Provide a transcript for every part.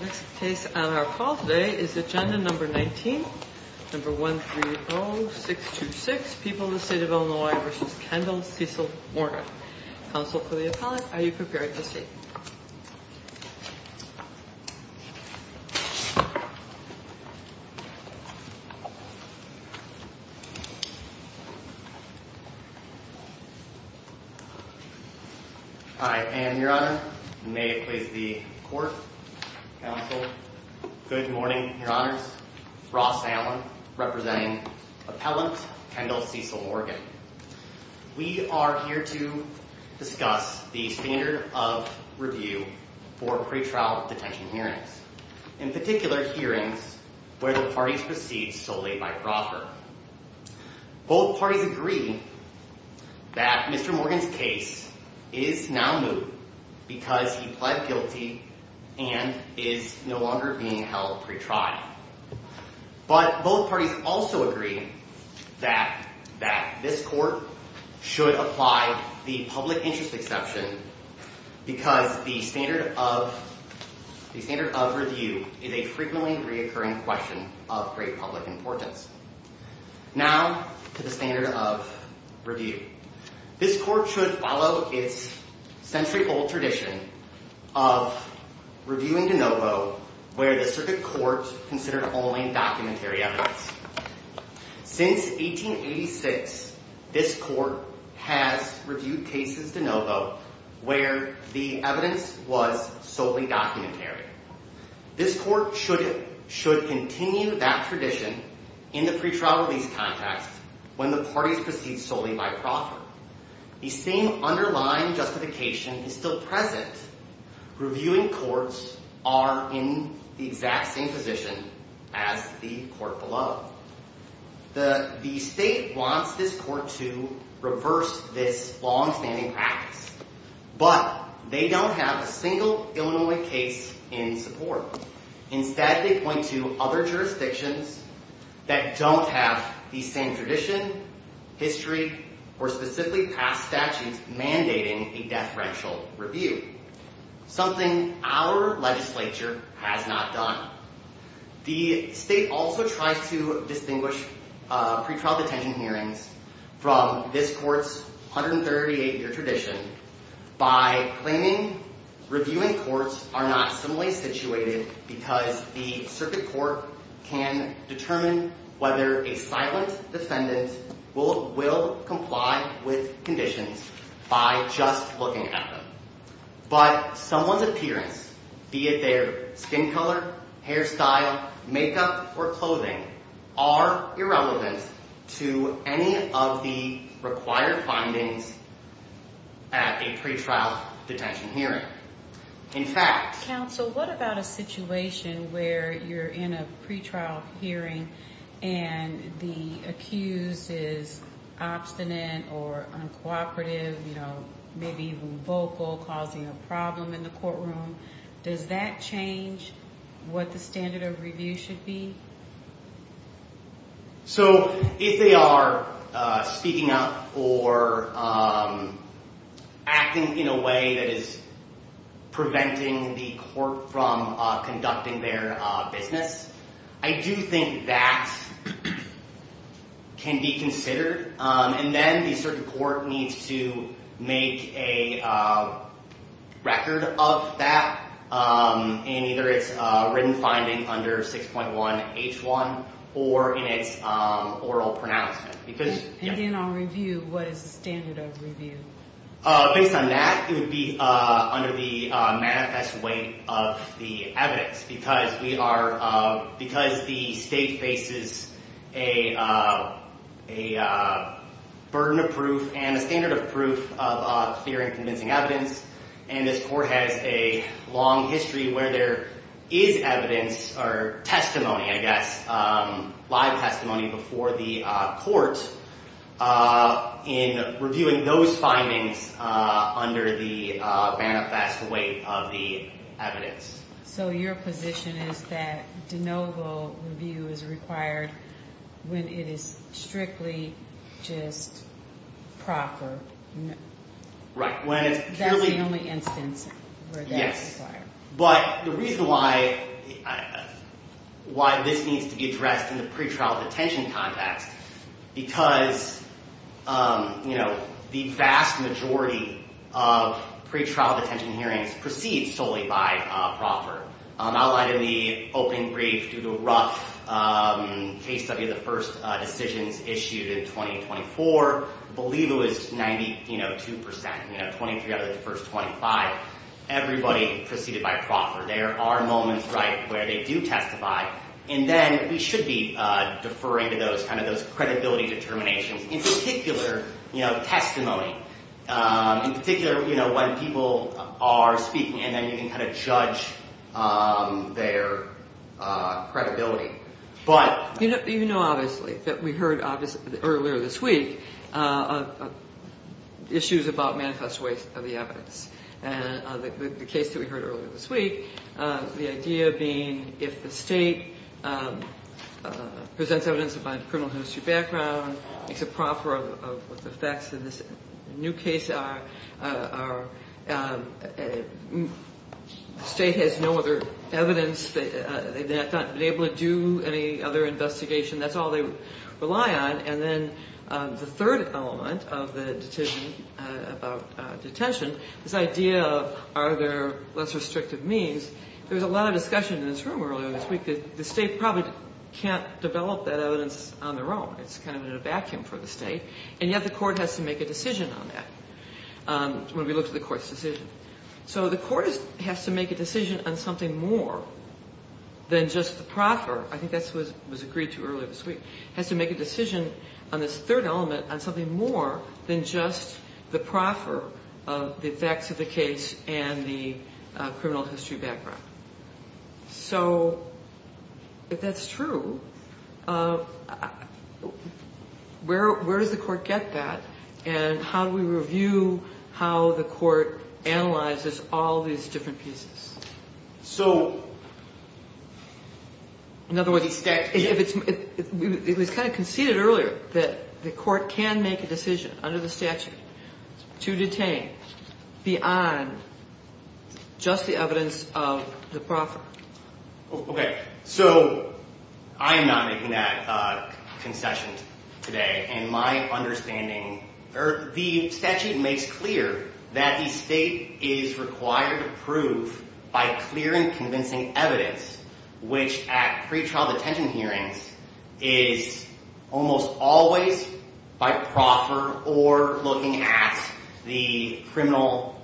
Next case on our call today is agenda number 19, number 130626, People of the State of Illinois v. Kendall Cecil Morgan. Counsel for the appellant, are you prepared to speak? I am, your honor. May it please the court, counsel. Good morning, your honors. Ross Allen, representing appellant Kendall Cecil Morgan. We are here to discuss the standard of review for pretrial detention hearings. In particular, hearings where the parties proceed solely by proffer. Both parties agree that Mr. Morgan's case is now moot because he pled guilty and is no longer being held pretrial. But both parties also agree that this court should apply the public interest exception because the standard of review is a frequently reoccurring question of great public importance. Now, to the standard of review. This court should follow its century-old tradition of reviewing de novo where the circuit court considered only documentary evidence. Since 1886, this court has reviewed cases de novo where the evidence was solely documentary. This court should continue that tradition in the pretrial release context when the parties proceed solely by proffer. The same underlying justification is still present. Reviewing courts are in the exact same position as the court below. The state wants this court to reverse this longstanding practice, but they don't have a single Illinois case in support. Instead, they point to other jurisdictions that don't have the same tradition, history, or specifically past statutes mandating a death-rential review, something our legislature has not done. The state also tries to distinguish pretrial detention hearings from this court's 138-year tradition by claiming reviewing courts are not similarly situated because the circuit court can determine whether a silent defendant will comply with conditions by just looking at them. But someone's appearance, be it their skin color, hairstyle, makeup, or clothing, are irrelevant to any of the required findings at a pretrial detention hearing. Counsel, what about a situation where you're in a pretrial hearing and the accused is obstinate or uncooperative, maybe even vocal, causing a problem in the courtroom? Does that change what the standard of review should be? If they are speaking up or acting in a way that is preventing the court from conducting their business, I do think that can be considered. And then the circuit court needs to make a record of that in either its written finding under 6.1H1 or in its oral pronouncement. And then on review, what is the standard of review? Based on that, it would be under the manifest weight of the evidence because the state faces a burden of proof and a standard of proof of clear and convincing evidence. And this court has a long history where there is evidence or testimony, I guess, live testimony before the court in reviewing those findings under the manifest weight of the evidence. So your position is that de novo review is required when it is strictly just proper? Right. That's the only instance where that's required. Yes. But the reason why this needs to be addressed in the pretrial detention context is because the vast majority of pretrial detention hearings proceed solely by proffer. Outlined in the opening brief due to a rough case study of the first decisions issued in 2024, I believe it was 92 percent, 23 out of the first 25. Everybody proceeded by proffer. There are moments where they do testify. And then we should be deferring to those credibility determinations. In particular, you know, testimony. In particular, you know, when people are speaking. And then you can kind of judge their credibility. You know, obviously, that we heard earlier this week issues about manifest weight of the evidence. And the case that we heard earlier this week, the idea being if the state presents evidence of a criminal history background, makes a proffer of what the facts of this new case are, the state has no other evidence. They have not been able to do any other investigation. That's all they rely on. And then the third element of the decision about detention, this idea of are there less restrictive means, there's a lot of discussion in this room earlier this week. The state probably can't develop that evidence on their own. It's kind of in a vacuum for the state. And yet the court has to make a decision on that. When we look at the court's decision. So the court has to make a decision on something more than just the proffer. I think that's what was agreed to earlier this week. Has to make a decision on this third element on something more than just the proffer of the facts of the case and the criminal history background. So if that's true, where does the court get that? And how do we review how the court analyzes all these different pieces? In other words, it was kind of conceded earlier that the court can make a decision under the statute to detain beyond just the evidence of the proffer. Okay. So I'm not making that concession today. The statute makes clear that the state is required to prove by clear and convincing evidence. Which at pretrial detention hearings is almost always by proffer or looking at the criminal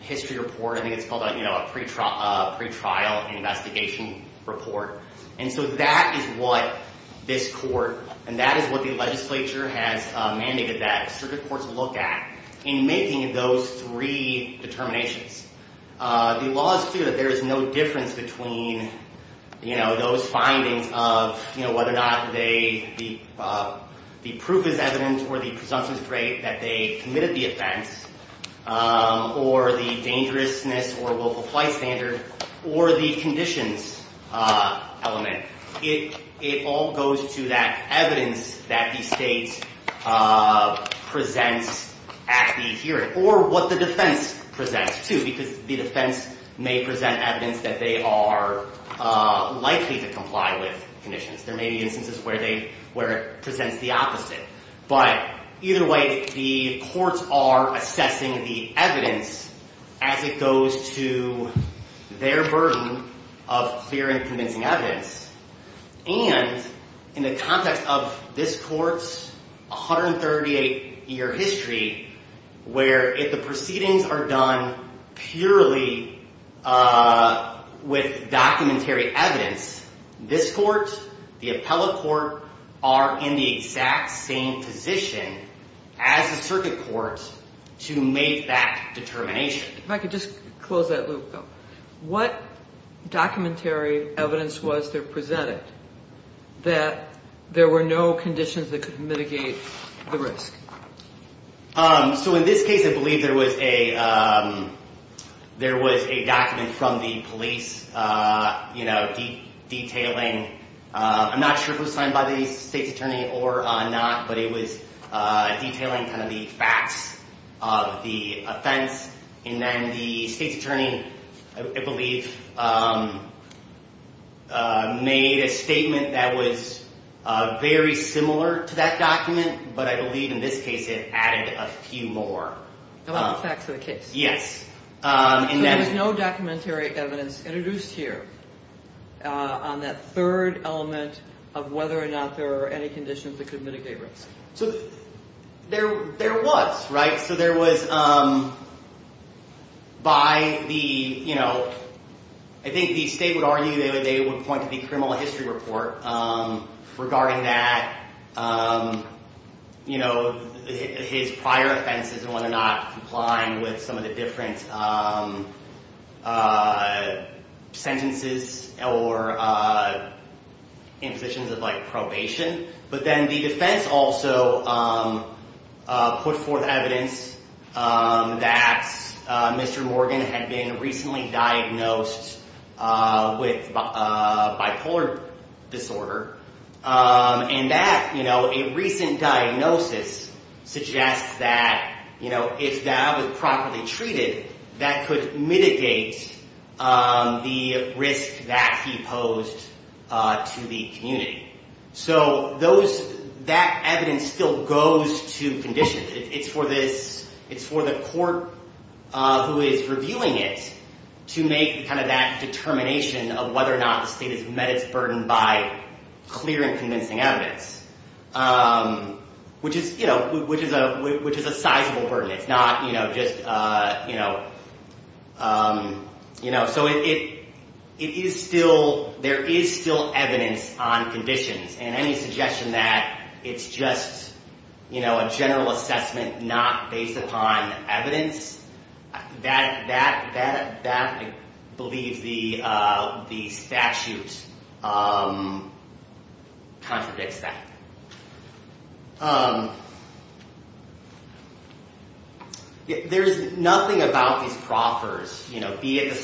history report. I think it's called a pretrial investigation report. And so that is what this court and that is what the legislature has mandated that circuit courts look at in making those three determinations. The law is clear that there is no difference between those findings of whether or not the proof is evident or the presumption is great that they committed the offense. Or the dangerousness or willful flight standard or the conditions element. It all goes to that evidence that the state presents at the hearing. Or what the defense presents, too, because the defense may present evidence that they are likely to comply with conditions. There may be instances where it presents the opposite. But either way, the courts are assessing the evidence as it goes to their version of clear and convincing evidence. And in the context of this court's 138 year history, where the proceedings are done purely with documentary evidence, this court, the appellate court, are in the exact same position as the circuit court to make that determination. If I could just close that loop, though. What documentary evidence was there presented that there were no conditions that could mitigate the risk? So in this case, I believe there was a document from the police detailing. I'm not sure if it was signed by the state's attorney or not, but it was detailing the facts of the offense. And then the state's attorney, I believe, made a statement that was very similar to that document, but I believe in this case it added a few more. About the facts of the case? Yes. So there was no documentary evidence introduced here on that third element of whether or not there are any conditions that could mitigate risk? So there was, right? So there was by the, you know, I think the state would argue that they would point to the criminal history report regarding that, you know, his prior offenses and whether or not complying with some of the different sentences or impositions of like probation. But then the defense also put forth evidence that Mr. Morgan had been recently diagnosed with bipolar disorder. And that, you know, a recent diagnosis suggests that, you know, if that was properly treated, that could mitigate the risk that he posed to the community. So those, that evidence still goes to conditions. It's for this, it's for the court who is reviewing it to make kind of that determination of whether or not the state has met its burden by clear and convincing evidence, which is, you know, which is a sizable burden. It's not, you know, just, you know, you know, so it is still, there is still evidence on conditions and any suggestion that it's just, you know, a general assessment not based upon evidence, that, that, that, that I believe the statute contradicts that. There is nothing about these proffers, you know, be it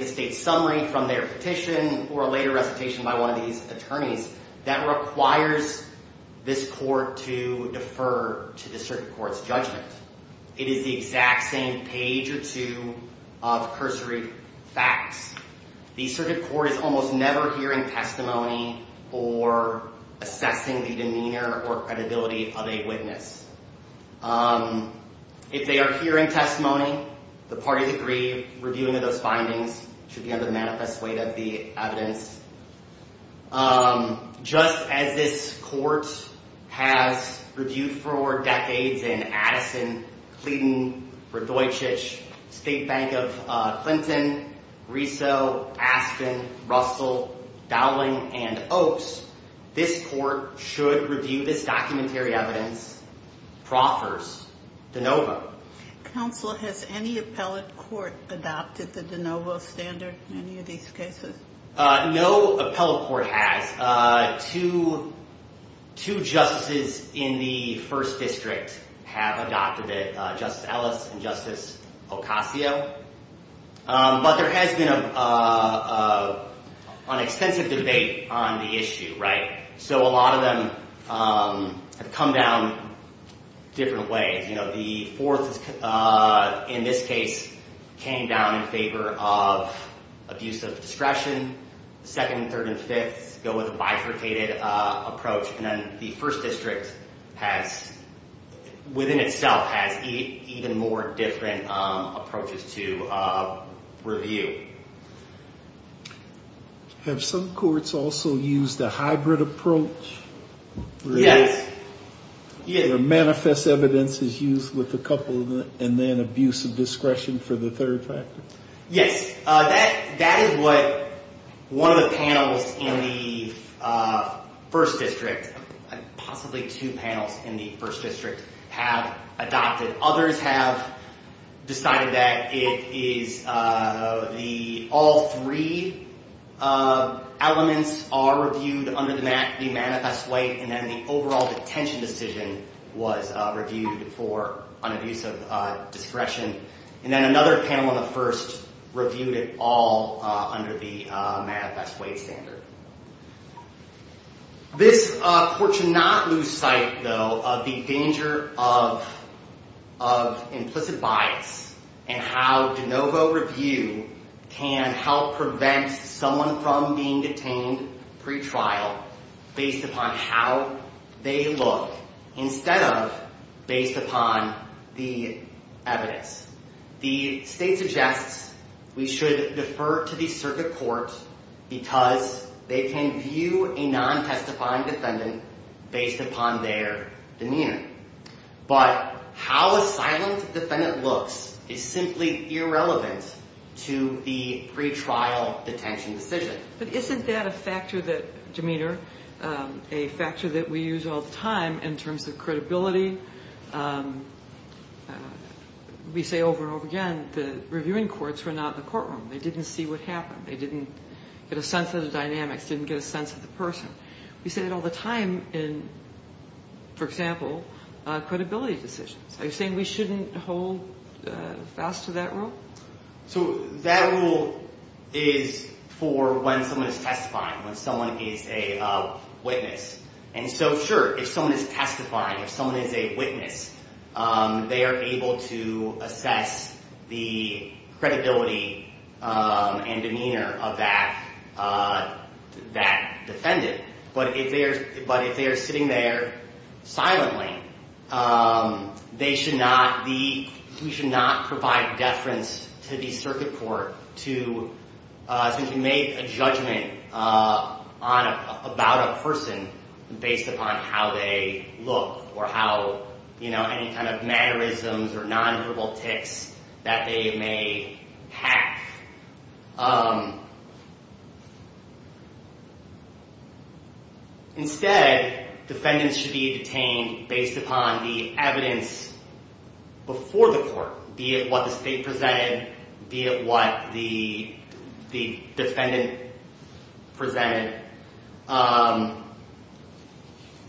the state summary from their petition or a later recitation by one of these attorneys that requires this court to defer to the circuit court's judgment. It is the exact same page or two of cursory facts. The circuit court is almost never hearing testimony or assessing the demeanor or credibility of a witness. If they are hearing testimony, the parties agree reviewing of those findings should be on the manifest way of the evidence. Just as this court has reviewed for decades in Addison, Cleden, Radojic, State Bank of Clinton, Riso, Aspen, Russell, Dowling, and Oaks, this court should review this documentary evidence, proffers, de novo. Counsel, has any appellate court adopted the de novo standard in any of these cases? No appellate court has. Two, two justices in the first district have adopted it, Justice Ellis and Justice Ocasio, but there has been an extensive debate on the issue, right? So a lot of them have come down different ways. The fourth, in this case, came down in favor of abuse of discretion. The second, third, and fifth go with a bifurcated approach. And then the first district has, within itself, has even more different approaches to review. Have some courts also used a hybrid approach? Yes. Where manifest evidence is used with a couple and then abuse of discretion for the third factor? Yes. That is what one of the panels in the first district, possibly two panels in the first district, have adopted. Others have decided that it is the, all three elements are reviewed under the manifest weight, and then the overall detention decision was reviewed for an abuse of discretion. And then another panel in the first reviewed it all under the manifest weight standard. This court should not lose sight, though, of the danger of implicit bias and how de novo review can help prevent someone from being detained pretrial based upon how they look instead of based upon the evidence. The state suggests we should defer to the circuit court because they can view a non-testifying defendant based upon their demeanor. But how a silent defendant looks is simply irrelevant to the pretrial detention decision. But isn't that a factor that, Demeter, a factor that we use all the time in terms of credibility? We say over and over again the reviewing courts were not in the courtroom. They didn't see what happened. They didn't get a sense of the dynamics, didn't get a sense of the person. We say that all the time in, for example, credibility decisions. Are you saying we shouldn't hold fast to that rule? So that rule is for when someone is testifying, when someone is a witness. And so, sure, if someone is testifying, if someone is a witness, they are able to assess the credibility and demeanor of that defendant. But if they are sitting there silently, we should not provide deference to the circuit court to make a judgment about a person based upon how they look or how any kind of mannerisms or nonverbal tics that they may have. Instead, defendants should be detained based upon the evidence before the court, be it what the state presented, be it what the defendant presented.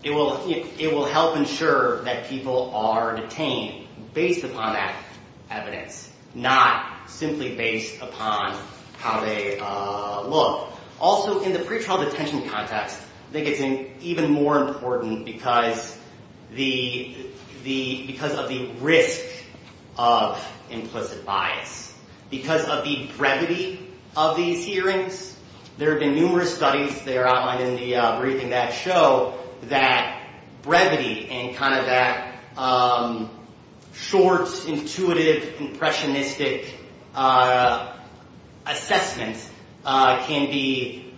It will help ensure that people are detained based upon that evidence, not simply based upon how they look. Also, in the pretrial detention context, I think it's even more important because of the risk of implicit bias, because of the brevity of these hearings. There have been numerous studies that are outlined in the briefing that show that brevity and kind of that short, intuitive, impressionistic assessment can be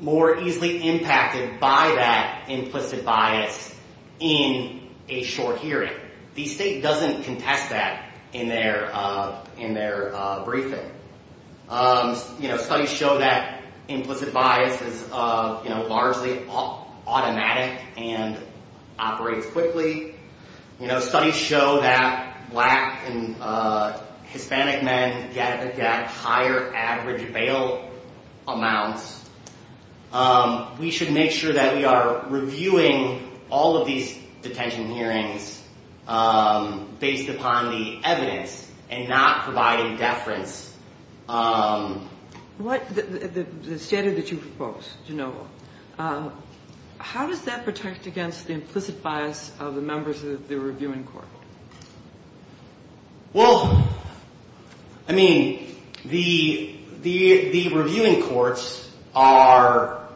more easily impacted by that implicit bias in a short hearing. The state doesn't contest that in their briefing. Studies show that implicit bias is largely automatic and operates quickly. Studies show that black and Hispanic men get higher average bail amounts. We should make sure that we are reviewing all of these detention hearings based upon the evidence and not providing deference. The standard that you propose, DeNovo, how does that protect against the implicit bias of the members of the reviewing court? Well, I mean, the reviewing courts are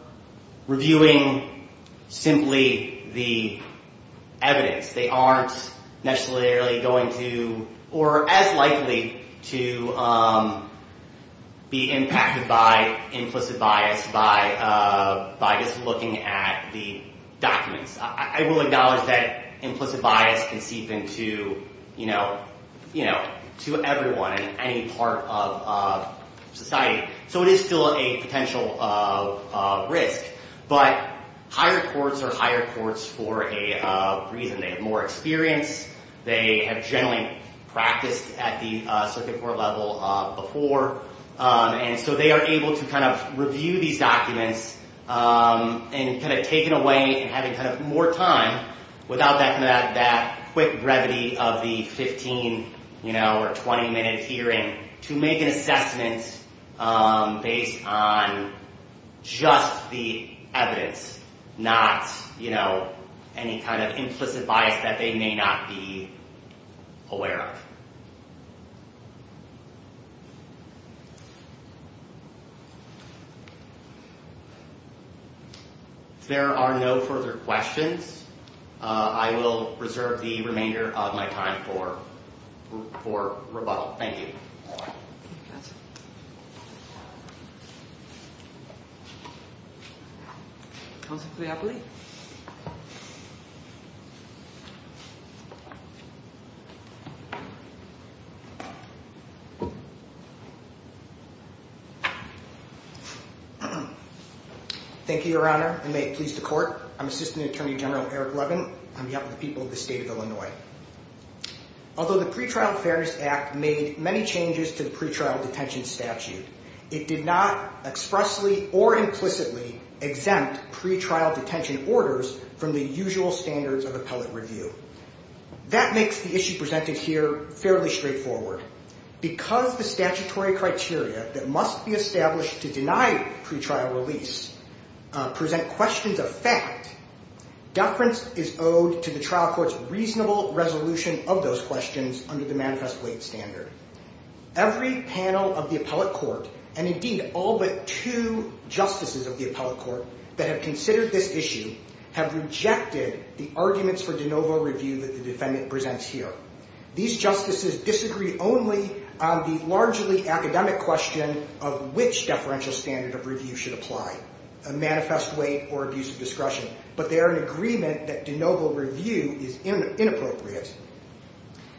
reviewing simply the evidence. They aren't necessarily going to or as likely to be impacted by implicit bias by just looking at the documents. I will acknowledge that implicit bias can seep into everyone in any part of society. So it is still a potential risk. But higher courts are higher courts for a reason. They have more experience. They have generally practiced at the circuit court level before. And so they are able to kind of review these documents and kind of take it away and have more time without that quick brevity of the 15 or 20-minute hearing to make an assessment based on just the evidence, not any kind of implicit bias that they may not be aware of. There are no further questions. I will reserve the remainder of my time for rebuttal. Thank you. Counsel. Counsel Cleopoli. Thank you, Your Honor, and may it please the court. I'm Assistant Attorney General Eric Levin. I'm here with the people of the state of Illinois. Although the Pretrial Fairness Act made many changes to the pretrial detention statute, it did not expressly or implicitly exempt pretrial detention orders from the usual standards of appellate review. That makes the issue presented here fairly straightforward. Because the statutory criteria that must be established to deny pretrial release present questions of fact, deference is owed to the trial court's reasonable resolution of those questions under the Manifest Weight Standard. Every panel of the appellate court, and indeed all but two justices of the appellate court that have considered this issue, have rejected the arguments for de novo review that the defendant presents here. These justices disagree only on the largely academic question of which deferential standard of review should apply, a manifest weight or abuse of discretion. But they are in agreement that de novo review is inappropriate.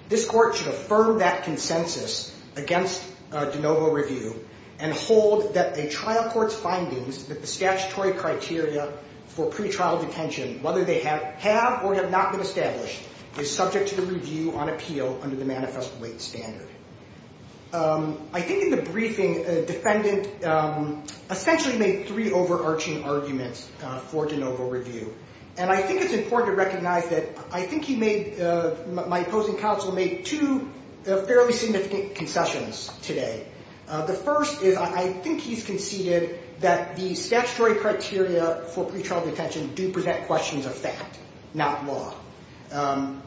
This court should affirm that consensus against de novo review and hold that a trial court's findings that the statutory criteria for pretrial detention, whether they have or have not been established, is subject to the review on appeal under the Manifest Weight Standard. I think in the briefing, the defendant essentially made three overarching arguments for de novo review. And I think it's important to recognize that I think my opposing counsel made two fairly significant concessions today. The first is I think he's conceded that the statutory criteria for pretrial detention do present questions of fact, not law. And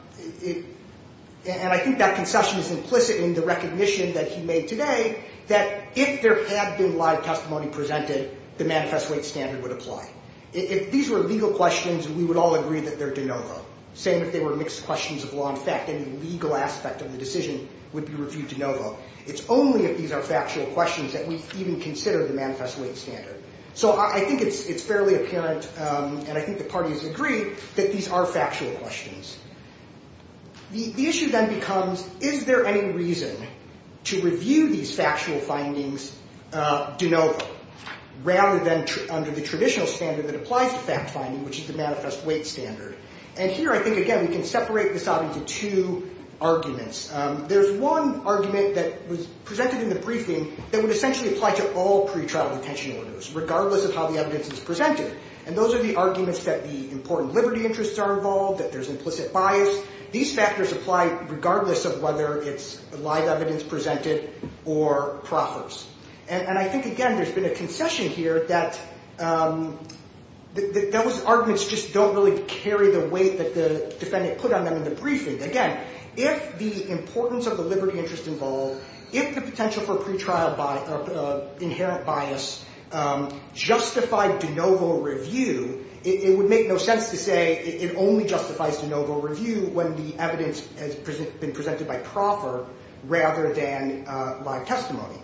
I think that concession is implicit in the recognition that he made today that if there had been live testimony presented, the Manifest Weight Standard would apply. If these were legal questions, we would all agree that they're de novo, same if they were mixed questions of law and fact. Any legal aspect of the decision would be reviewed de novo. It's only if these are factual questions that we even consider the Manifest Weight Standard. So I think it's fairly apparent, and I think the parties agree, that these are factual questions. The issue then becomes, is there any reason to review these factual findings de novo rather than under the traditional standard that applies to fact-finding, which is the Manifest Weight Standard? And here, I think, again, we can separate this out into two arguments. There's one argument that was presented in the briefing that would essentially apply to all pretrial detention orders, regardless of how the evidence is presented. And those are the arguments that the important liberty interests are involved, that there's implicit bias. These factors apply regardless of whether it's live evidence presented or proffers. And I think, again, there's been a concession here that those arguments just don't really carry the weight that the defendant put on them in the briefing. Again, if the importance of the liberty interest involved, if the potential for pretrial inherent bias justified de novo review, it would make no sense to say it only justifies de novo review when the evidence has been presented by proffer rather than live testimony.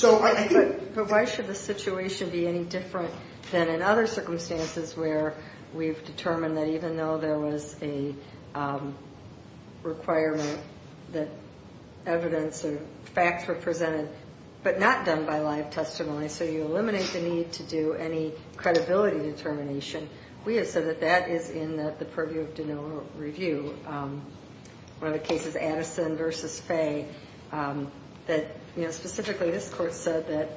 But why should the situation be any different than in other circumstances where we've determined that even though there was a requirement that evidence or facts were presented but not done by live testimony, so you eliminate the need to do any credibility determination, we have said that that is in the purview of de novo review. One of the cases, Addison v. Fay, that specifically this court said that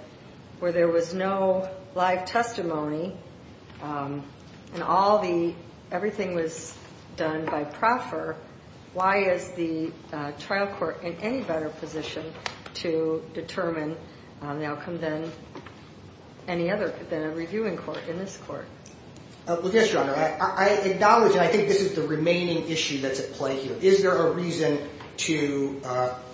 where there was no live testimony and everything was done by proffer, why is the trial court in any better position to determine the outcome than a reviewing court in this court? Yes, Your Honor, I acknowledge and I think this is the remaining issue that's at play here. Is there a reason to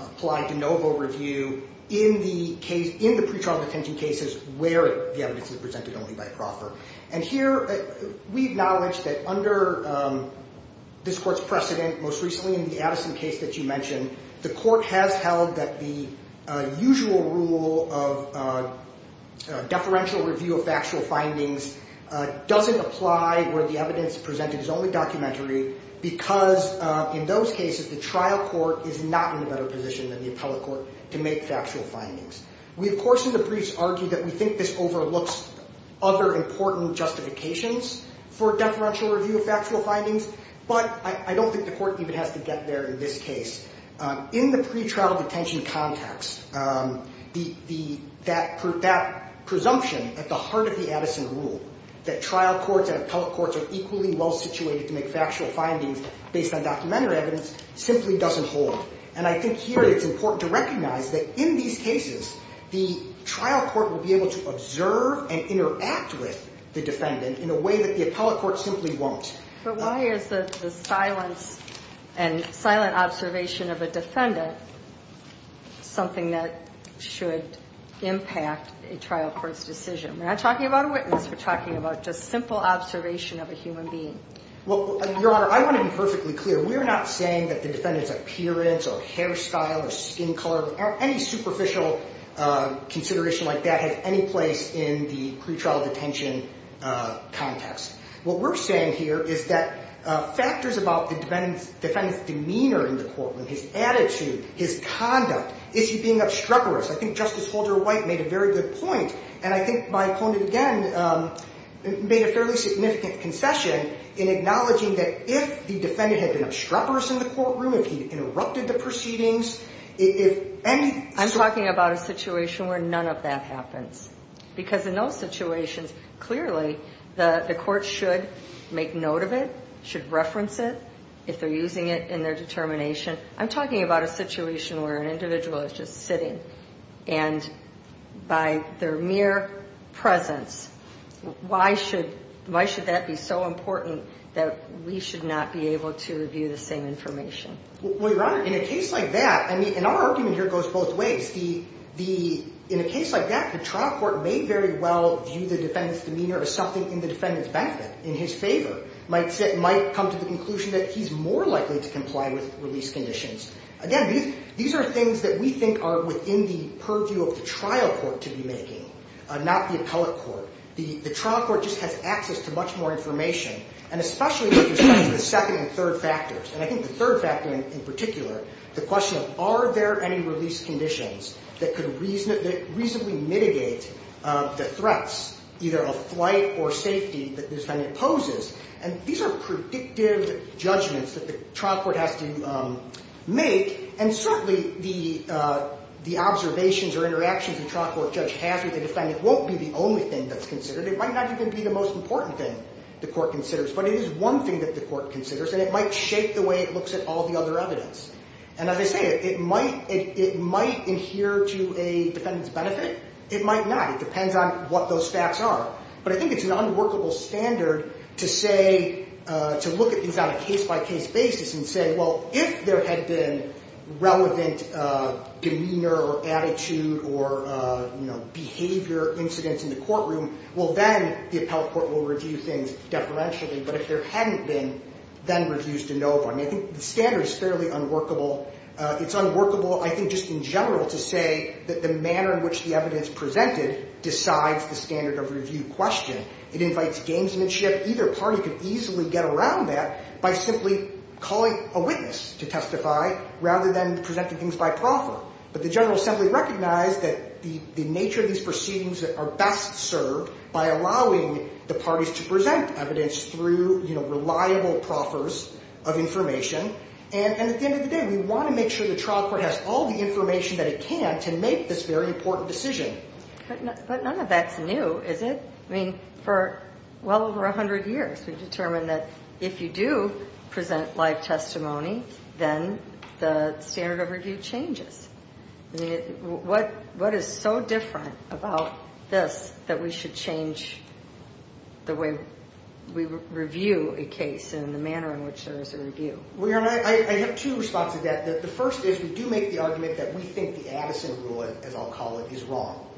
apply de novo review in the pretrial detention cases where the evidence is presented only by proffer? And here we acknowledge that under this court's precedent, most recently in the Addison case that you mentioned, the court has held that the usual rule of deferential review of factual findings doesn't apply where the evidence presented is only documentary because in those cases, the trial court is not in a better position than the appellate court to make factual findings. We of course in the briefs argue that we think this overlooks other important justifications for deferential review of factual findings, but I don't think the court even has to get there in this case. In the pretrial detention context, that presumption at the heart of the Addison rule that trial courts and appellate courts are equally well situated to make factual findings based on documentary evidence simply doesn't hold. And I think here it's important to recognize that in these cases, the trial court will be able to observe and interact with the defendant in a way that the appellate court simply won't. But why is the silence and silent observation of a defendant something that should impact a trial court's decision? We're not talking about a witness, we're talking about just simple observation of a human being. Well, Your Honor, I want to be perfectly clear. We're not saying that the defendant's appearance or hairstyle or skin color or any superficial consideration like that has any place in the pretrial detention context. What we're saying here is that factors about the defendant's demeanor in the courtroom, his attitude, his conduct, is he being obstreperous? I think Justice Holder White made a very good point, and I think my opponent again made a fairly significant concession in acknowledging that if the defendant had been obstreperous in the courtroom, if he interrupted the proceedings, if any... I'm talking about a situation where none of that happens. Because in those situations, clearly, the court should make note of it, should reference it if they're using it in their determination. I'm talking about a situation where an individual is just sitting, and by their mere presence, why should that be so important that we should not be able to review the same information? Well, Your Honor, in a case like that, I mean, and our argument here goes both ways. In a case like that, the trial court may very well view the defendant's demeanor as something in the defendant's benefit, in his favor. Might come to the conclusion that he's more likely to comply with release conditions. Again, these are things that we think are within the purview of the trial court to be making, not the appellate court. The trial court just has access to much more information, and especially with respect to the second and third factors. And I think the third factor in particular, the question of are there any release conditions that could reasonably mitigate the threats, either of flight or safety, that the defendant poses? And these are predictive judgments that the trial court has to make. And certainly, the observations or interactions the trial court judge has with the defendant won't be the only thing that's considered. It might not even be the most important thing the court considers. But it is one thing that the court considers, and it might shape the way it looks at all the other evidence. And as I say, it might adhere to a defendant's benefit. It might not. It depends on what those facts are. But I think it's an unworkable standard to say, to look at these on a case-by-case basis and say, well, if there had been relevant demeanor or attitude or behavior incidents in the courtroom, well, then the appellate court will review things deferentially. But if there hadn't been, then reviews de novo. I mean, I think the standard is fairly unworkable. It's unworkable, I think, just in general to say that the manner in which the evidence presented decides the standard of review question. It invites gamesmanship. Either party could easily get around that by simply calling a witness to testify rather than presenting things by proffer. But the General Assembly recognized that the nature of these proceedings are best served by allowing the parties to present evidence through, you know, reliable proffers of information. And at the end of the day, we want to make sure the trial court has all the information that it can to make this very important decision. But none of that's new, is it? I mean, for well over 100 years, we've determined that if you do present live testimony, then the standard of review changes. I mean, what is so different about this that we should change the way we review a case and the manner in which there is a review? Well, Your Honor, I have two responses to that. The first is we do make the argument that we think the Addison rule, as I'll call it, is wrong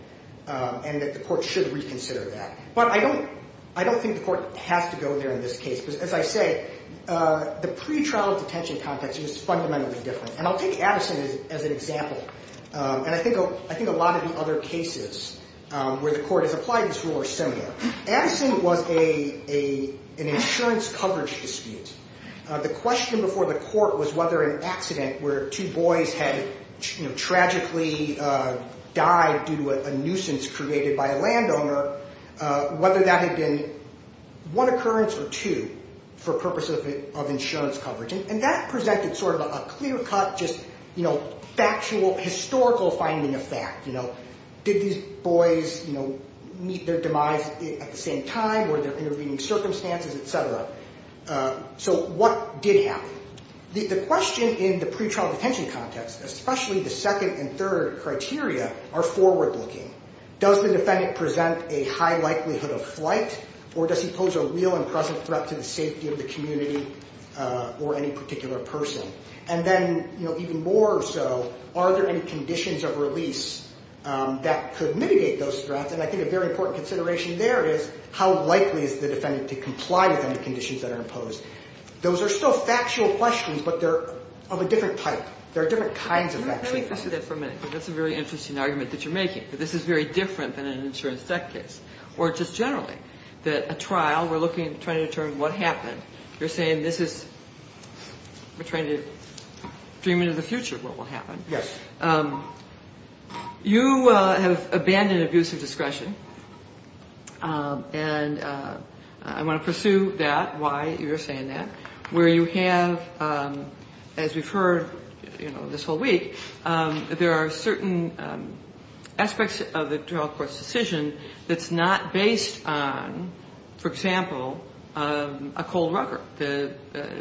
and that the court should reconsider that. But I don't think the court has to go there in this case because, as I say, the pretrial detention context is fundamentally different. And I'll take Addison as an example. And I think a lot of the other cases where the court has applied this rule are similar. Addison was an insurance coverage dispute. The question before the court was whether an accident where two boys had tragically died due to a nuisance created by a landowner, whether that had been one occurrence or two for purposes of insurance coverage. And that presented sort of a clear-cut, just factual, historical finding of fact. Did these boys meet their demise at the same time? Were there intervening circumstances, et cetera? So what did happen? The question in the pretrial detention context, especially the second and third criteria, are forward-looking. Does the defendant present a high likelihood of flight, or does he pose a real and present threat to the safety of the community or any particular person? And then even more so, are there any conditions of release that could mitigate those threats? And I think a very important consideration there is how likely is the defendant to comply with any conditions that are imposed? Those are still factual questions, but they're of a different type. There are different kinds of factual questions. Let me finish with that for a minute, because that's a very interesting argument that you're making, that this is very different than an insurance debt case, or just generally, that a trial, we're looking at trying to determine what happened. You're saying this is ‑‑ we're trying to dream into the future of what will happen. Yes. You have abandoned abusive discretion, and I want to pursue that, why you're saying that, where you have, as we've heard, you know, this whole week, there are certain aspects of the trial court's decision that's not based on, for example, a cold record, the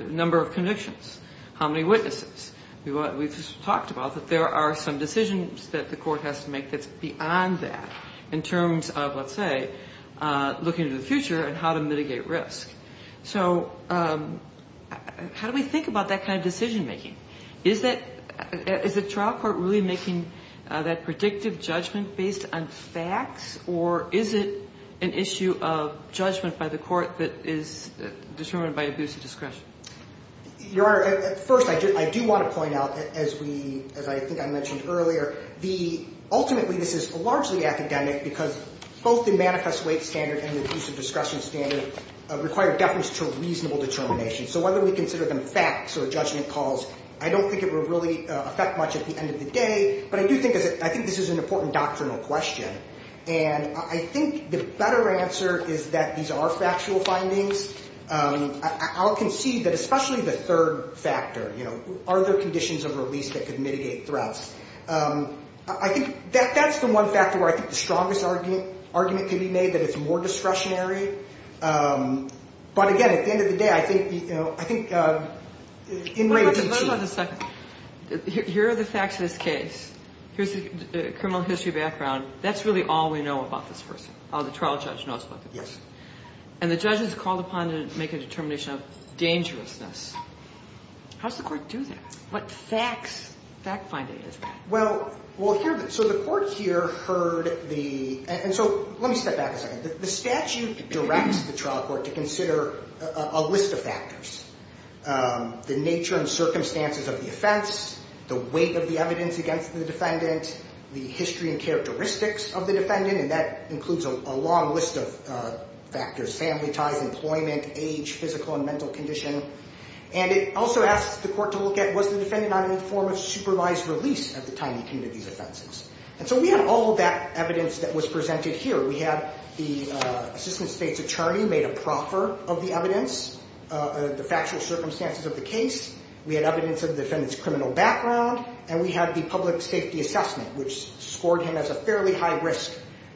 number of convictions, how many witnesses. We've talked about that there are some decisions that the court has to make that's beyond that, in terms of, let's say, looking into the future and how to mitigate risk. So how do we think about that kind of decision‑making? Is the trial court really making that predictive judgment based on facts, or is it an issue of judgment by the court that is determined by abusive discretion? Your Honor, first, I do want to point out, as I think I mentioned earlier, ultimately, this is largely academic, because both the manifest weight standard and the abusive discretion standard require deference to reasonable determination. So whether we consider them facts or judgment calls, I don't think it would really affect much at the end of the day, but I do think this is an important doctrinal question, and I think the better answer is that these are factual findings. I'll concede that especially the third factor, you know, are there conditions of release that could mitigate threats? I think that's the one factor where I think the strongest argument could be made, that it's more discretionary. But again, at the end of the day, I think, you know, I think in raising ‑‑ Wait a second. Wait a second. Here are the facts of this case. Here's the criminal history background. That's really all we know about this person, all the trial judge knows about the person. Yes. And the judge has called upon to make a determination of dangerousness. How does the court do that? What facts, fact finding is that? Well, here, so the court here heard the ‑‑ and so let me step back a second. The statute directs the trial court to consider a list of factors, the nature and circumstances of the offense, the weight of the evidence against the defendant, the history and characteristics of the defendant, and that includes a long list of factors, family ties, employment, age, physical and mental condition. And it also asks the court to look at, was the defendant on any form of supervised release at the time he committed these offenses? And so we have all of that evidence that was presented here. We have the assistant state's attorney made a proffer of the evidence, the factual circumstances of the case. We had evidence of the defendant's criminal background, and we had the public safety assessment, which scored him as a fairly high risk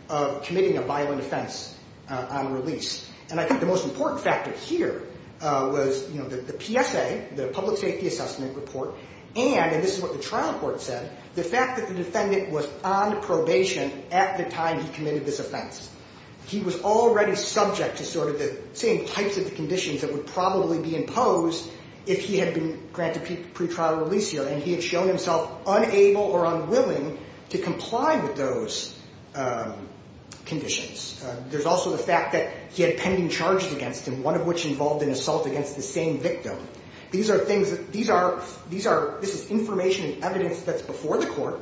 of committing a violent offense on release. And I think the most important factor here was the PSA, the public safety assessment report, and, and this is what the trial court said, the fact that the defendant was on probation at the time he committed this offense. He was already subject to sort of the same types of conditions that would probably be imposed if he had been granted pretrial release here, and he had shown himself unable or unwilling to comply with those conditions. There's also the fact that he had pending charges against him, one of which involved an assault against the same victim. These are things that, these are, these are, this is information and evidence that's before the court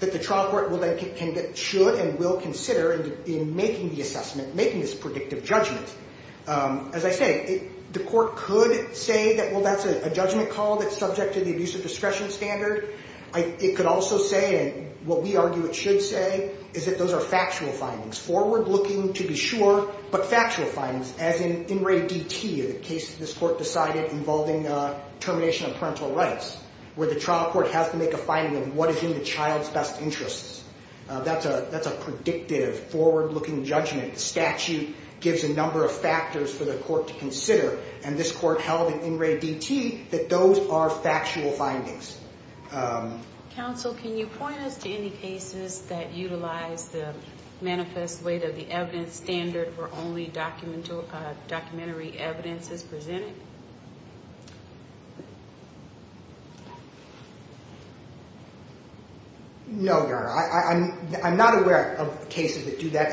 that the trial court will then, should and will consider in making the assessment, making this predictive judgment. As I say, the court could say that, well, that's a judgment call that's subject to the abuse of discretion standard. It could also say, and what we argue it should say, is that those are factual findings, forward-looking to be sure, but factual findings, as in In Re DT, the case that this court decided involving termination of parental rights, where the trial court has to make a finding of what is in the child's best interests. That's a, that's a predictive, forward-looking judgment. The statute gives a number of factors for the court to consider, and this court held in In Re DT that those are factual findings. Counsel, can you point us to any cases that utilize the manifest weight of the evidence standard where only documentary evidence is presented? No, Your Honor. I'm not aware of cases that do that.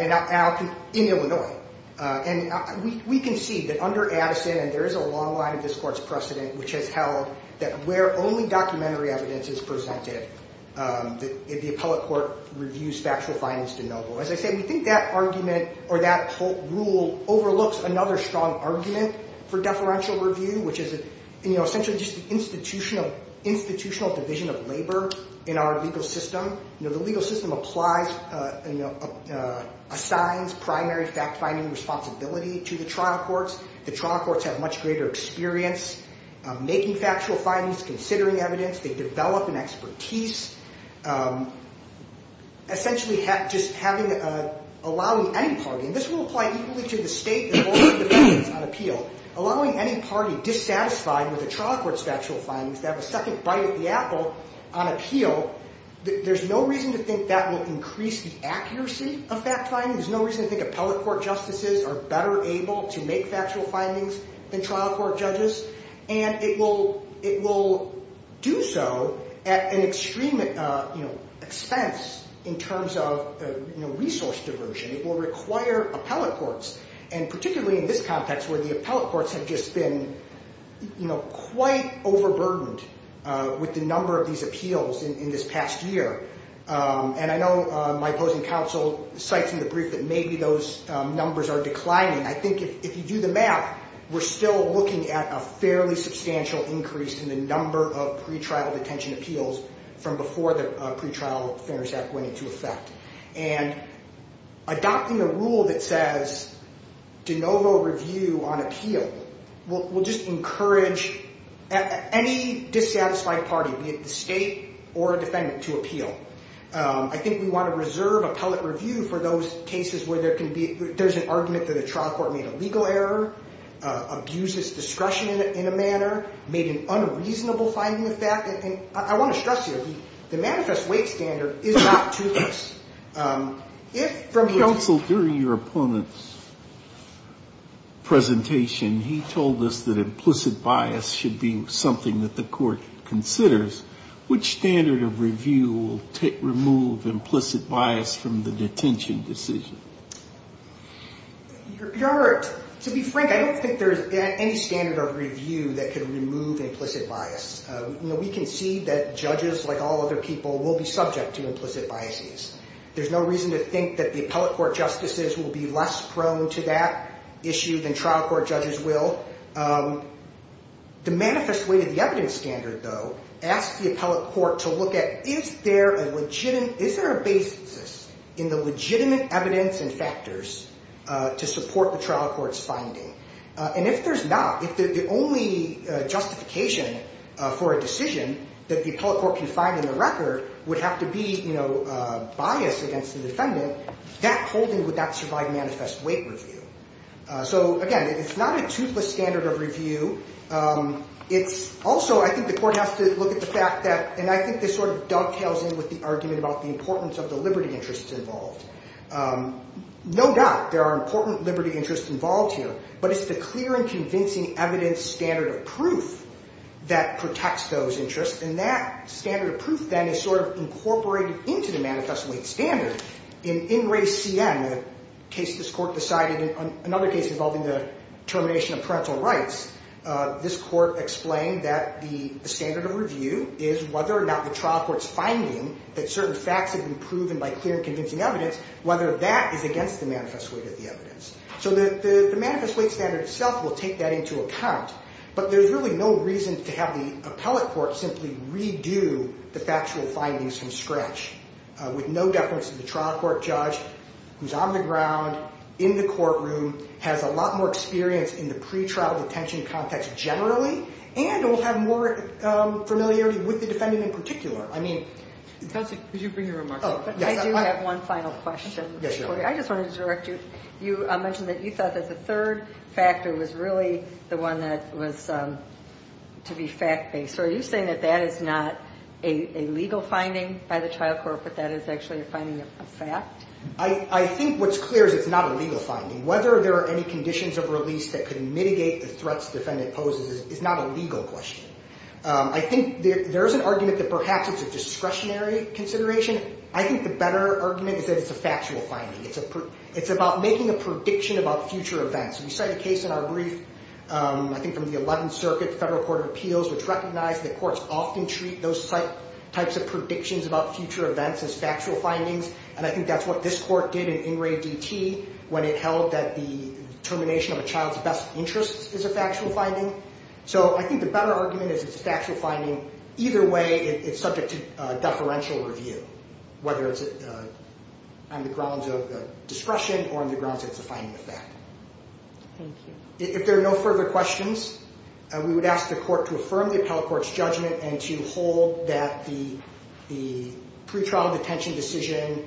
In Illinois. And we can see that under Addison, and there is a long line of this court's precedent, which has held that where only documentary evidence is presented, the appellate court reviews factual findings de novo. As I said, we think that argument, or that rule, overlooks another strong argument for deferential review, which is essentially just the institutional division of labor in our legal system. You know, the legal system applies, you know, assigns primary fact-finding responsibility to the trial courts. The trial courts have much greater experience making factual findings, considering evidence. They develop an expertise. Essentially just having, allowing any party, and this will apply equally to the state and all the defendants on appeal, allowing any party dissatisfied with a trial court's factual findings to have a second bite of the apple on appeal, there's no reason to think that will increase the accuracy of fact-finding. There's no reason to think appellate court justices are better able to make factual findings than trial court judges. And it will do so at an extreme expense in terms of resource diversion. It will require appellate courts, and particularly in this context where the appellate courts have just been, you know, quite overburdened with the number of these appeals in this past year. And I know my opposing counsel cites in the brief that maybe those numbers are declining. I think if you do the math, we're still looking at a fairly substantial increase in the number of pretrial detention appeals from before the Pretrial Defender's Act went into effect. And adopting a rule that says de novo review on appeal will just encourage any dissatisfied party, be it the state or a defendant, to appeal. I think we want to reserve appellate review for those cases where there can be, there's an argument that a trial court made a legal error, abused its discretion in a manner, made an unreasonable finding of fact, and I want to stress here, the manifest weight standard is not toothless. If from counsel during your opponent's presentation he told us that implicit bias should be something that the court considers, which standard of review will remove implicit bias from the detention decision? Your Honor, to be frank, I don't think there's any standard of review that could remove implicit bias. You know, we can see that judges, like all other people, will be subject to implicit biases. There's no reason to think that the appellate court justices will be less prone to that issue than trial court judges will. The manifest weight of the evidence standard, though, asks the appellate court to look at, is there a basis in the legitimate evidence and factors to support the trial court's finding? And if there's not, if the only justification for a decision that the appellate court can find in the record would have to be bias against the defendant, that holding would not survive manifest weight review. So, again, it's not a toothless standard of review. It's also, I think the court has to look at the fact that, and I think this sort of dovetails in with the argument about the importance of the liberty interests involved. No doubt there are important liberty interests involved here, but it's the clear and convincing evidence standard of proof that protects those interests, and that standard of proof, then, is sort of incorporated into the manifest weight standard In In Re Siem, a case this court decided, another case involving the termination of parental rights, this court explained that the standard of review is whether or not the trial court's finding that certain facts have been proven by clear and convincing evidence, whether that is against the manifest weight of the evidence. So the manifest weight standard itself will take that into account, but there's really no reason to have the appellate court simply redo the factual findings from scratch with no deference to the trial court judge who's on the ground, in the courtroom, has a lot more experience in the pre-trial detention context generally, and will have more familiarity with the defendant in particular. I mean... Could you bring your remarks up? I do have one final question. I just wanted to direct you. You mentioned that you thought that the third factor was really the one that was to be fact-based. So are you saying that that is not a legal finding by the trial court, but that is actually a finding of fact? I think what's clear is it's not a legal finding. Whether there are any conditions of release that could mitigate the threats the defendant poses is not a legal question. I think there is an argument that perhaps it's a discretionary consideration. I think the better argument is that it's a factual finding. It's about making a prediction about future events. We cite a case in our brief, I think from the 11th Circuit Federal Court of Appeals, which recognized that courts often treat those types of predictions about future events as factual findings. And I think that's what this court did in In Re DT when it held that the termination of a child's best interest is a factual finding. So I think the better argument is it's a factual finding. Either way, it's subject to deferential review, whether it's on the grounds of discretion or on the grounds that it's a finding of fact. Thank you. If there are no further questions, we would ask the court to affirm the appellate court's judgment and to hold that the pretrial detention decision,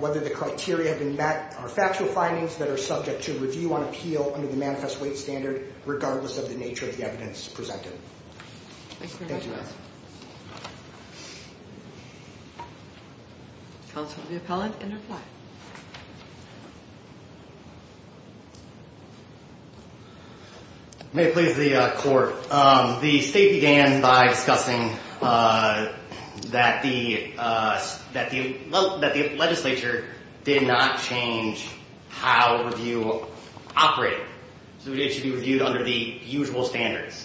whether the criteria have been met, are factual findings that are subject to review on appeal under the manifest weight standard regardless of the nature of the evidence presented. Thank you. Counsel to the appellant, and reply. May it please the court. The state began by discussing that the legislature did not change how review operated. So it should be reviewed under the usual standards.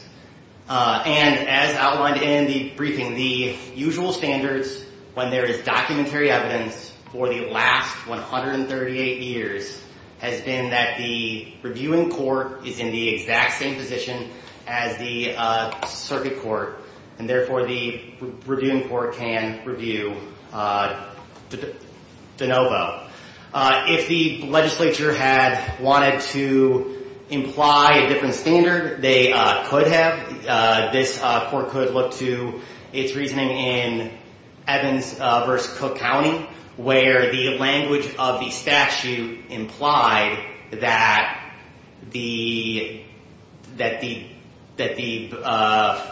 And as outlined in the briefing, the usual standards when there is documentary evidence for the last 138 years has been that the reviewing court is in the exact same position as the circuit court. And therefore, the reviewing court can review de novo. If the legislature had wanted to imply a different standard, they could have. This court could look to its reasoning in Evans v. Cook County, where the language of the statute implied that the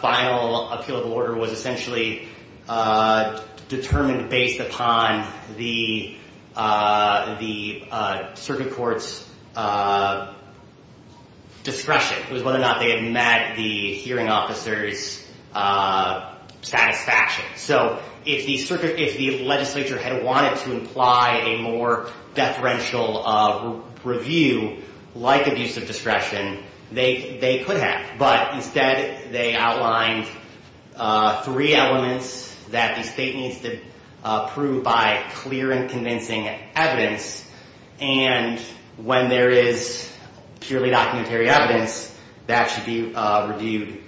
final appeal of the order was essentially determined based upon the circuit court's discretion. It was whether or not they had met the hearing officer's satisfaction. So if the legislature had wanted to imply a more deferential review, like abuse of discretion, they could have. But instead, they outlined three elements that the state needs to prove by clear and convincing evidence. And when there is purely documentary evidence, that should be reviewed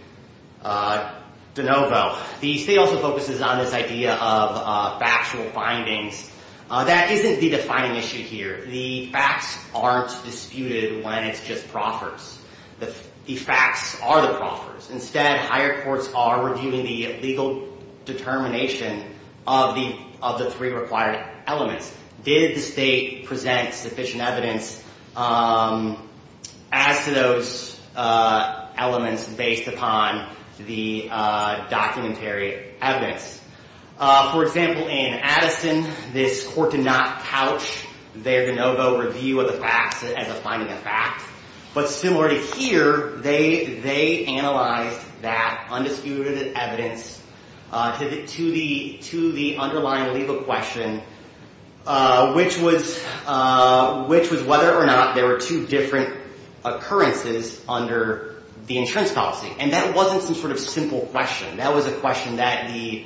de novo. The state also focuses on this idea of factual findings that isn't the defining issue here. The facts aren't disputed when it's just proffers. The facts are the proffers. Instead, higher courts are reviewing the legal determination of the three required elements. Did the state present sufficient evidence as to those elements based upon the documentary evidence? For example, in Addison, this court did not couch their de novo review of the facts as a finding of facts. But similar to here, they analyzed that undisputed evidence to the underlying legal question, which was whether or not there were two different occurrences under the insurance policy. And that wasn't some sort of simple question. That was a question that the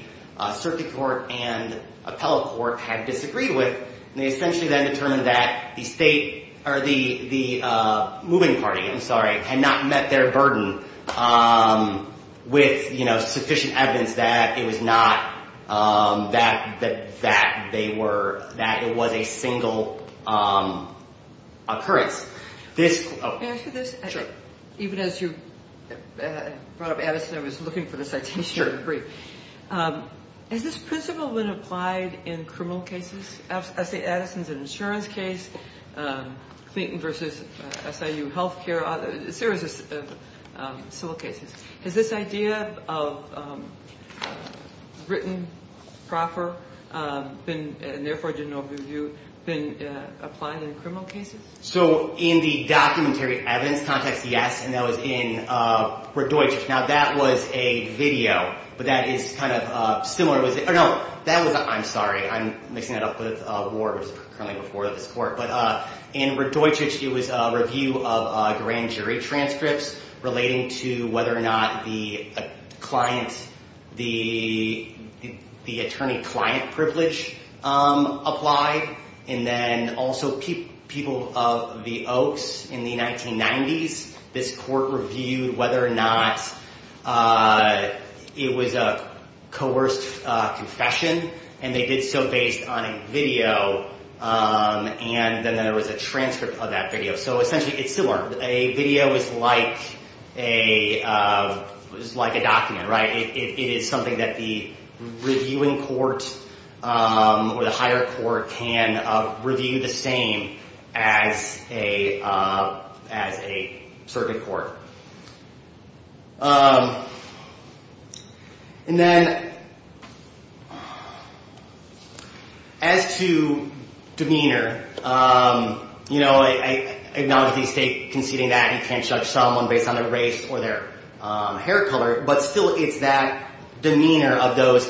Circuit Court and Appellate Court had disagreed with. And they essentially then determined that the moving party had not met their burden with sufficient evidence that it was a single occurrence. Can I ask you this? Sure. Even as you brought up Addison, I was looking for this item. Has this principle been applied in criminal cases? I say Addison's an insurance case, Clinton versus SIU health care, a series of civil cases. Has this idea of written proffer, and therefore de novo review, been applied in criminal cases? So in the documentary evidence context, yes. And that was in Radojic. Now, that was a video. But that is kind of similar. Or no, that was a, I'm sorry. I'm mixing it up with war, which is currently before this court. But in Radojic, it was a review of grand jury transcripts relating to whether or not the attorney-client privilege applied. And then also people of the Oaks in the 1990s, this court reviewed whether or not it was a coerced confession. And they did so based on a video. And then there was a transcript of that video. So essentially, it's similar. A video is like a document, right? It is something that the reviewing court or the higher court can review the same as a circuit court. And then as to demeanor, I acknowledge the state conceding that you can't judge someone based on their race or their hair color. But still, it's that demeanor of those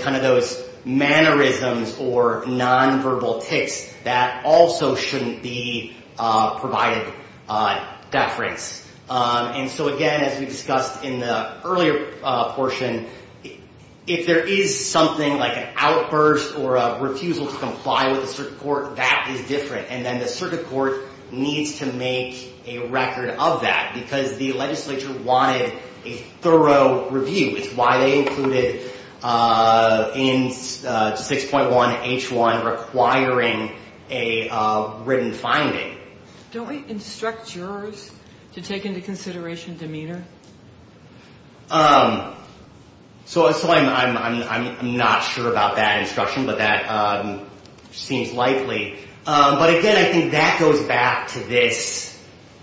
mannerisms or nonverbal tics that also shouldn't be provided deference. And so again, as we discussed in the earlier portion, if there is something like an outburst or a refusal to comply with the circuit court, that is different. And then the circuit court needs to make a record of that because the legislature wanted a thorough review. It's why they included in 6.1H1 requiring a written finding. Don't we instruct jurors to take into consideration demeanor? So I'm not sure about that instruction, but that seems likely. But again, I think that goes back to this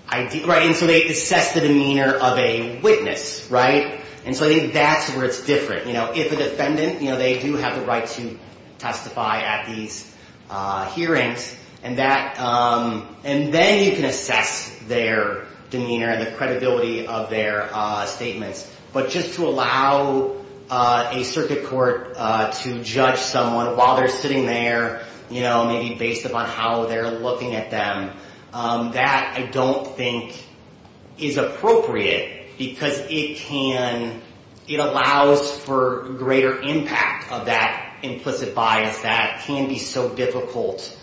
idea. And so they assess the demeanor of a witness, right? And so I think that's where it's different. If a defendant, they do have the right to testify at these hearings. And then you can assess their demeanor and the credibility of their statements. But just to allow a circuit court to judge someone while they're sitting there, maybe based upon how they're looking at them, that I don't think is appropriate because it allows for greater impact of that implicit bias that can be so difficult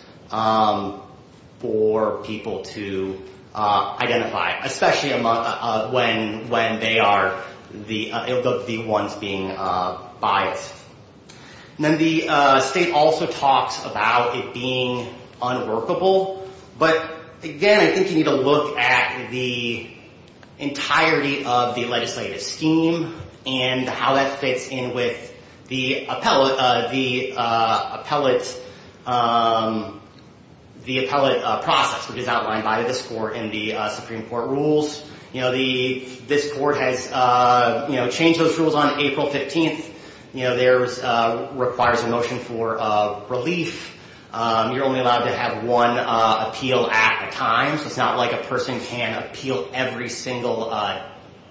for people to identify, especially when they are the ones being biased. Then the state also talks about it being unworkable. But again, I think you need to look at the entirety of the legislative scheme and how that fits in with the appellate process, which is outlined by this court in the Supreme Court rules. This court has changed those rules on April 15th. There requires a motion for relief. You're only allowed to have one appeal at a time. So it's not like a person can appeal every single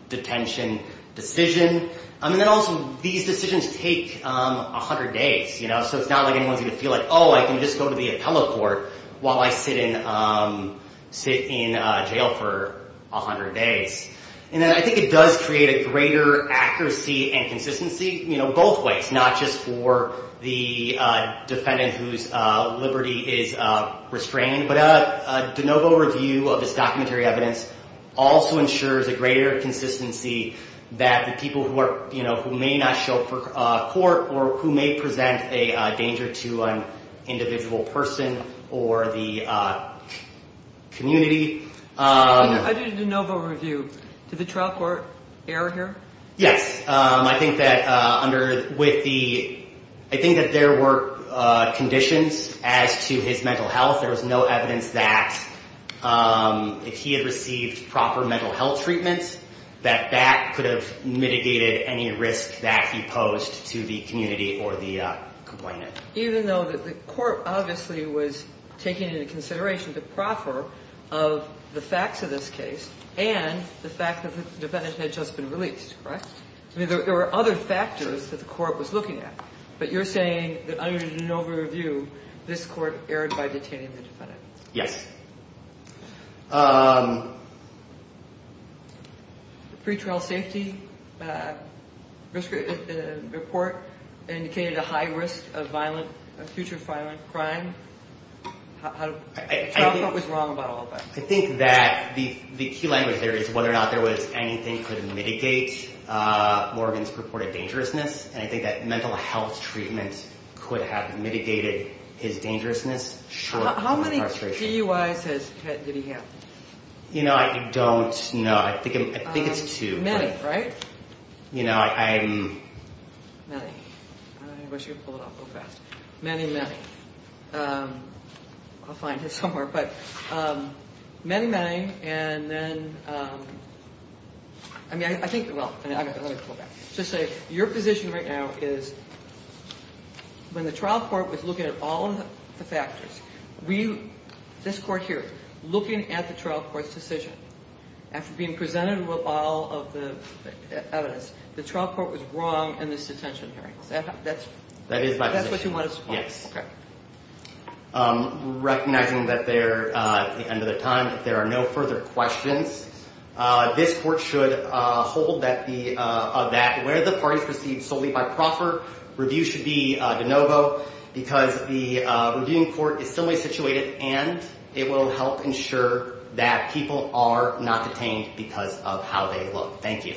detention decision. And then also, these decisions take 100 days. So it's not like anyone's going to feel like, oh, I can just go to the appellate court while I sit in jail for 100 days. And then I think it does create a greater accuracy and consistency both ways, not just for the defendant whose liberty is restrained. But a de novo review of this documentary evidence also ensures a greater consistency that the people who may not show up for court or who may present a danger to an individual person or the community. I did a de novo review. Did the trial court err here? Yes. I think that there were conditions as to his mental health. There was no evidence that if he had received proper mental health treatments, that that could have mitigated any risk that he posed to the community or the complainant. Even though the court obviously was taking into consideration the proffer of the facts of this case and the fact that the defendant had just been released, correct? There were other factors that the court was looking at. But you're saying that under the de novo review, this court erred by detaining the defendant. Pre-trial safety report indicated a high risk of future violent crime. The trial court was wrong about all of that. I think that the key language there is whether or not there was anything that could mitigate Morgan's purported dangerousness. And I think that mental health treatment could have mitigated his dangerousness short of the frustration. How many DUIs did he have? You know, I don't know. I think it's two. Many, right? You know, I'm... Many. I wish you could pull it off real fast. Many, many. I'll find it somewhere. But many, many. And then, I mean, I think, well, let me pull it back. Just say, your position right now is when the trial court was looking at all of the factors, this court here, looking at the trial court's decision, after being presented with all of the evidence, the trial court was wrong in this detention hearing. That's what you want us to call it. Yes. Recognizing that they're at the end of their time, if there are no further questions, this court should hold that where the parties proceed solely by proffer, review should be de novo because the reviewing court is similarly situated and it will help ensure that people are not detained because of how they look. Thank you.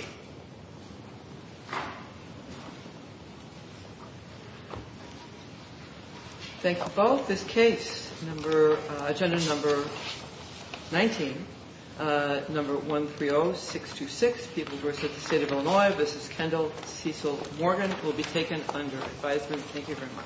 Thank you both. This case, agenda number 19, number 130626, People vs. the State of Illinois, this is Kendall Cecil Morgan, will be taken under advisement. Thank you very much.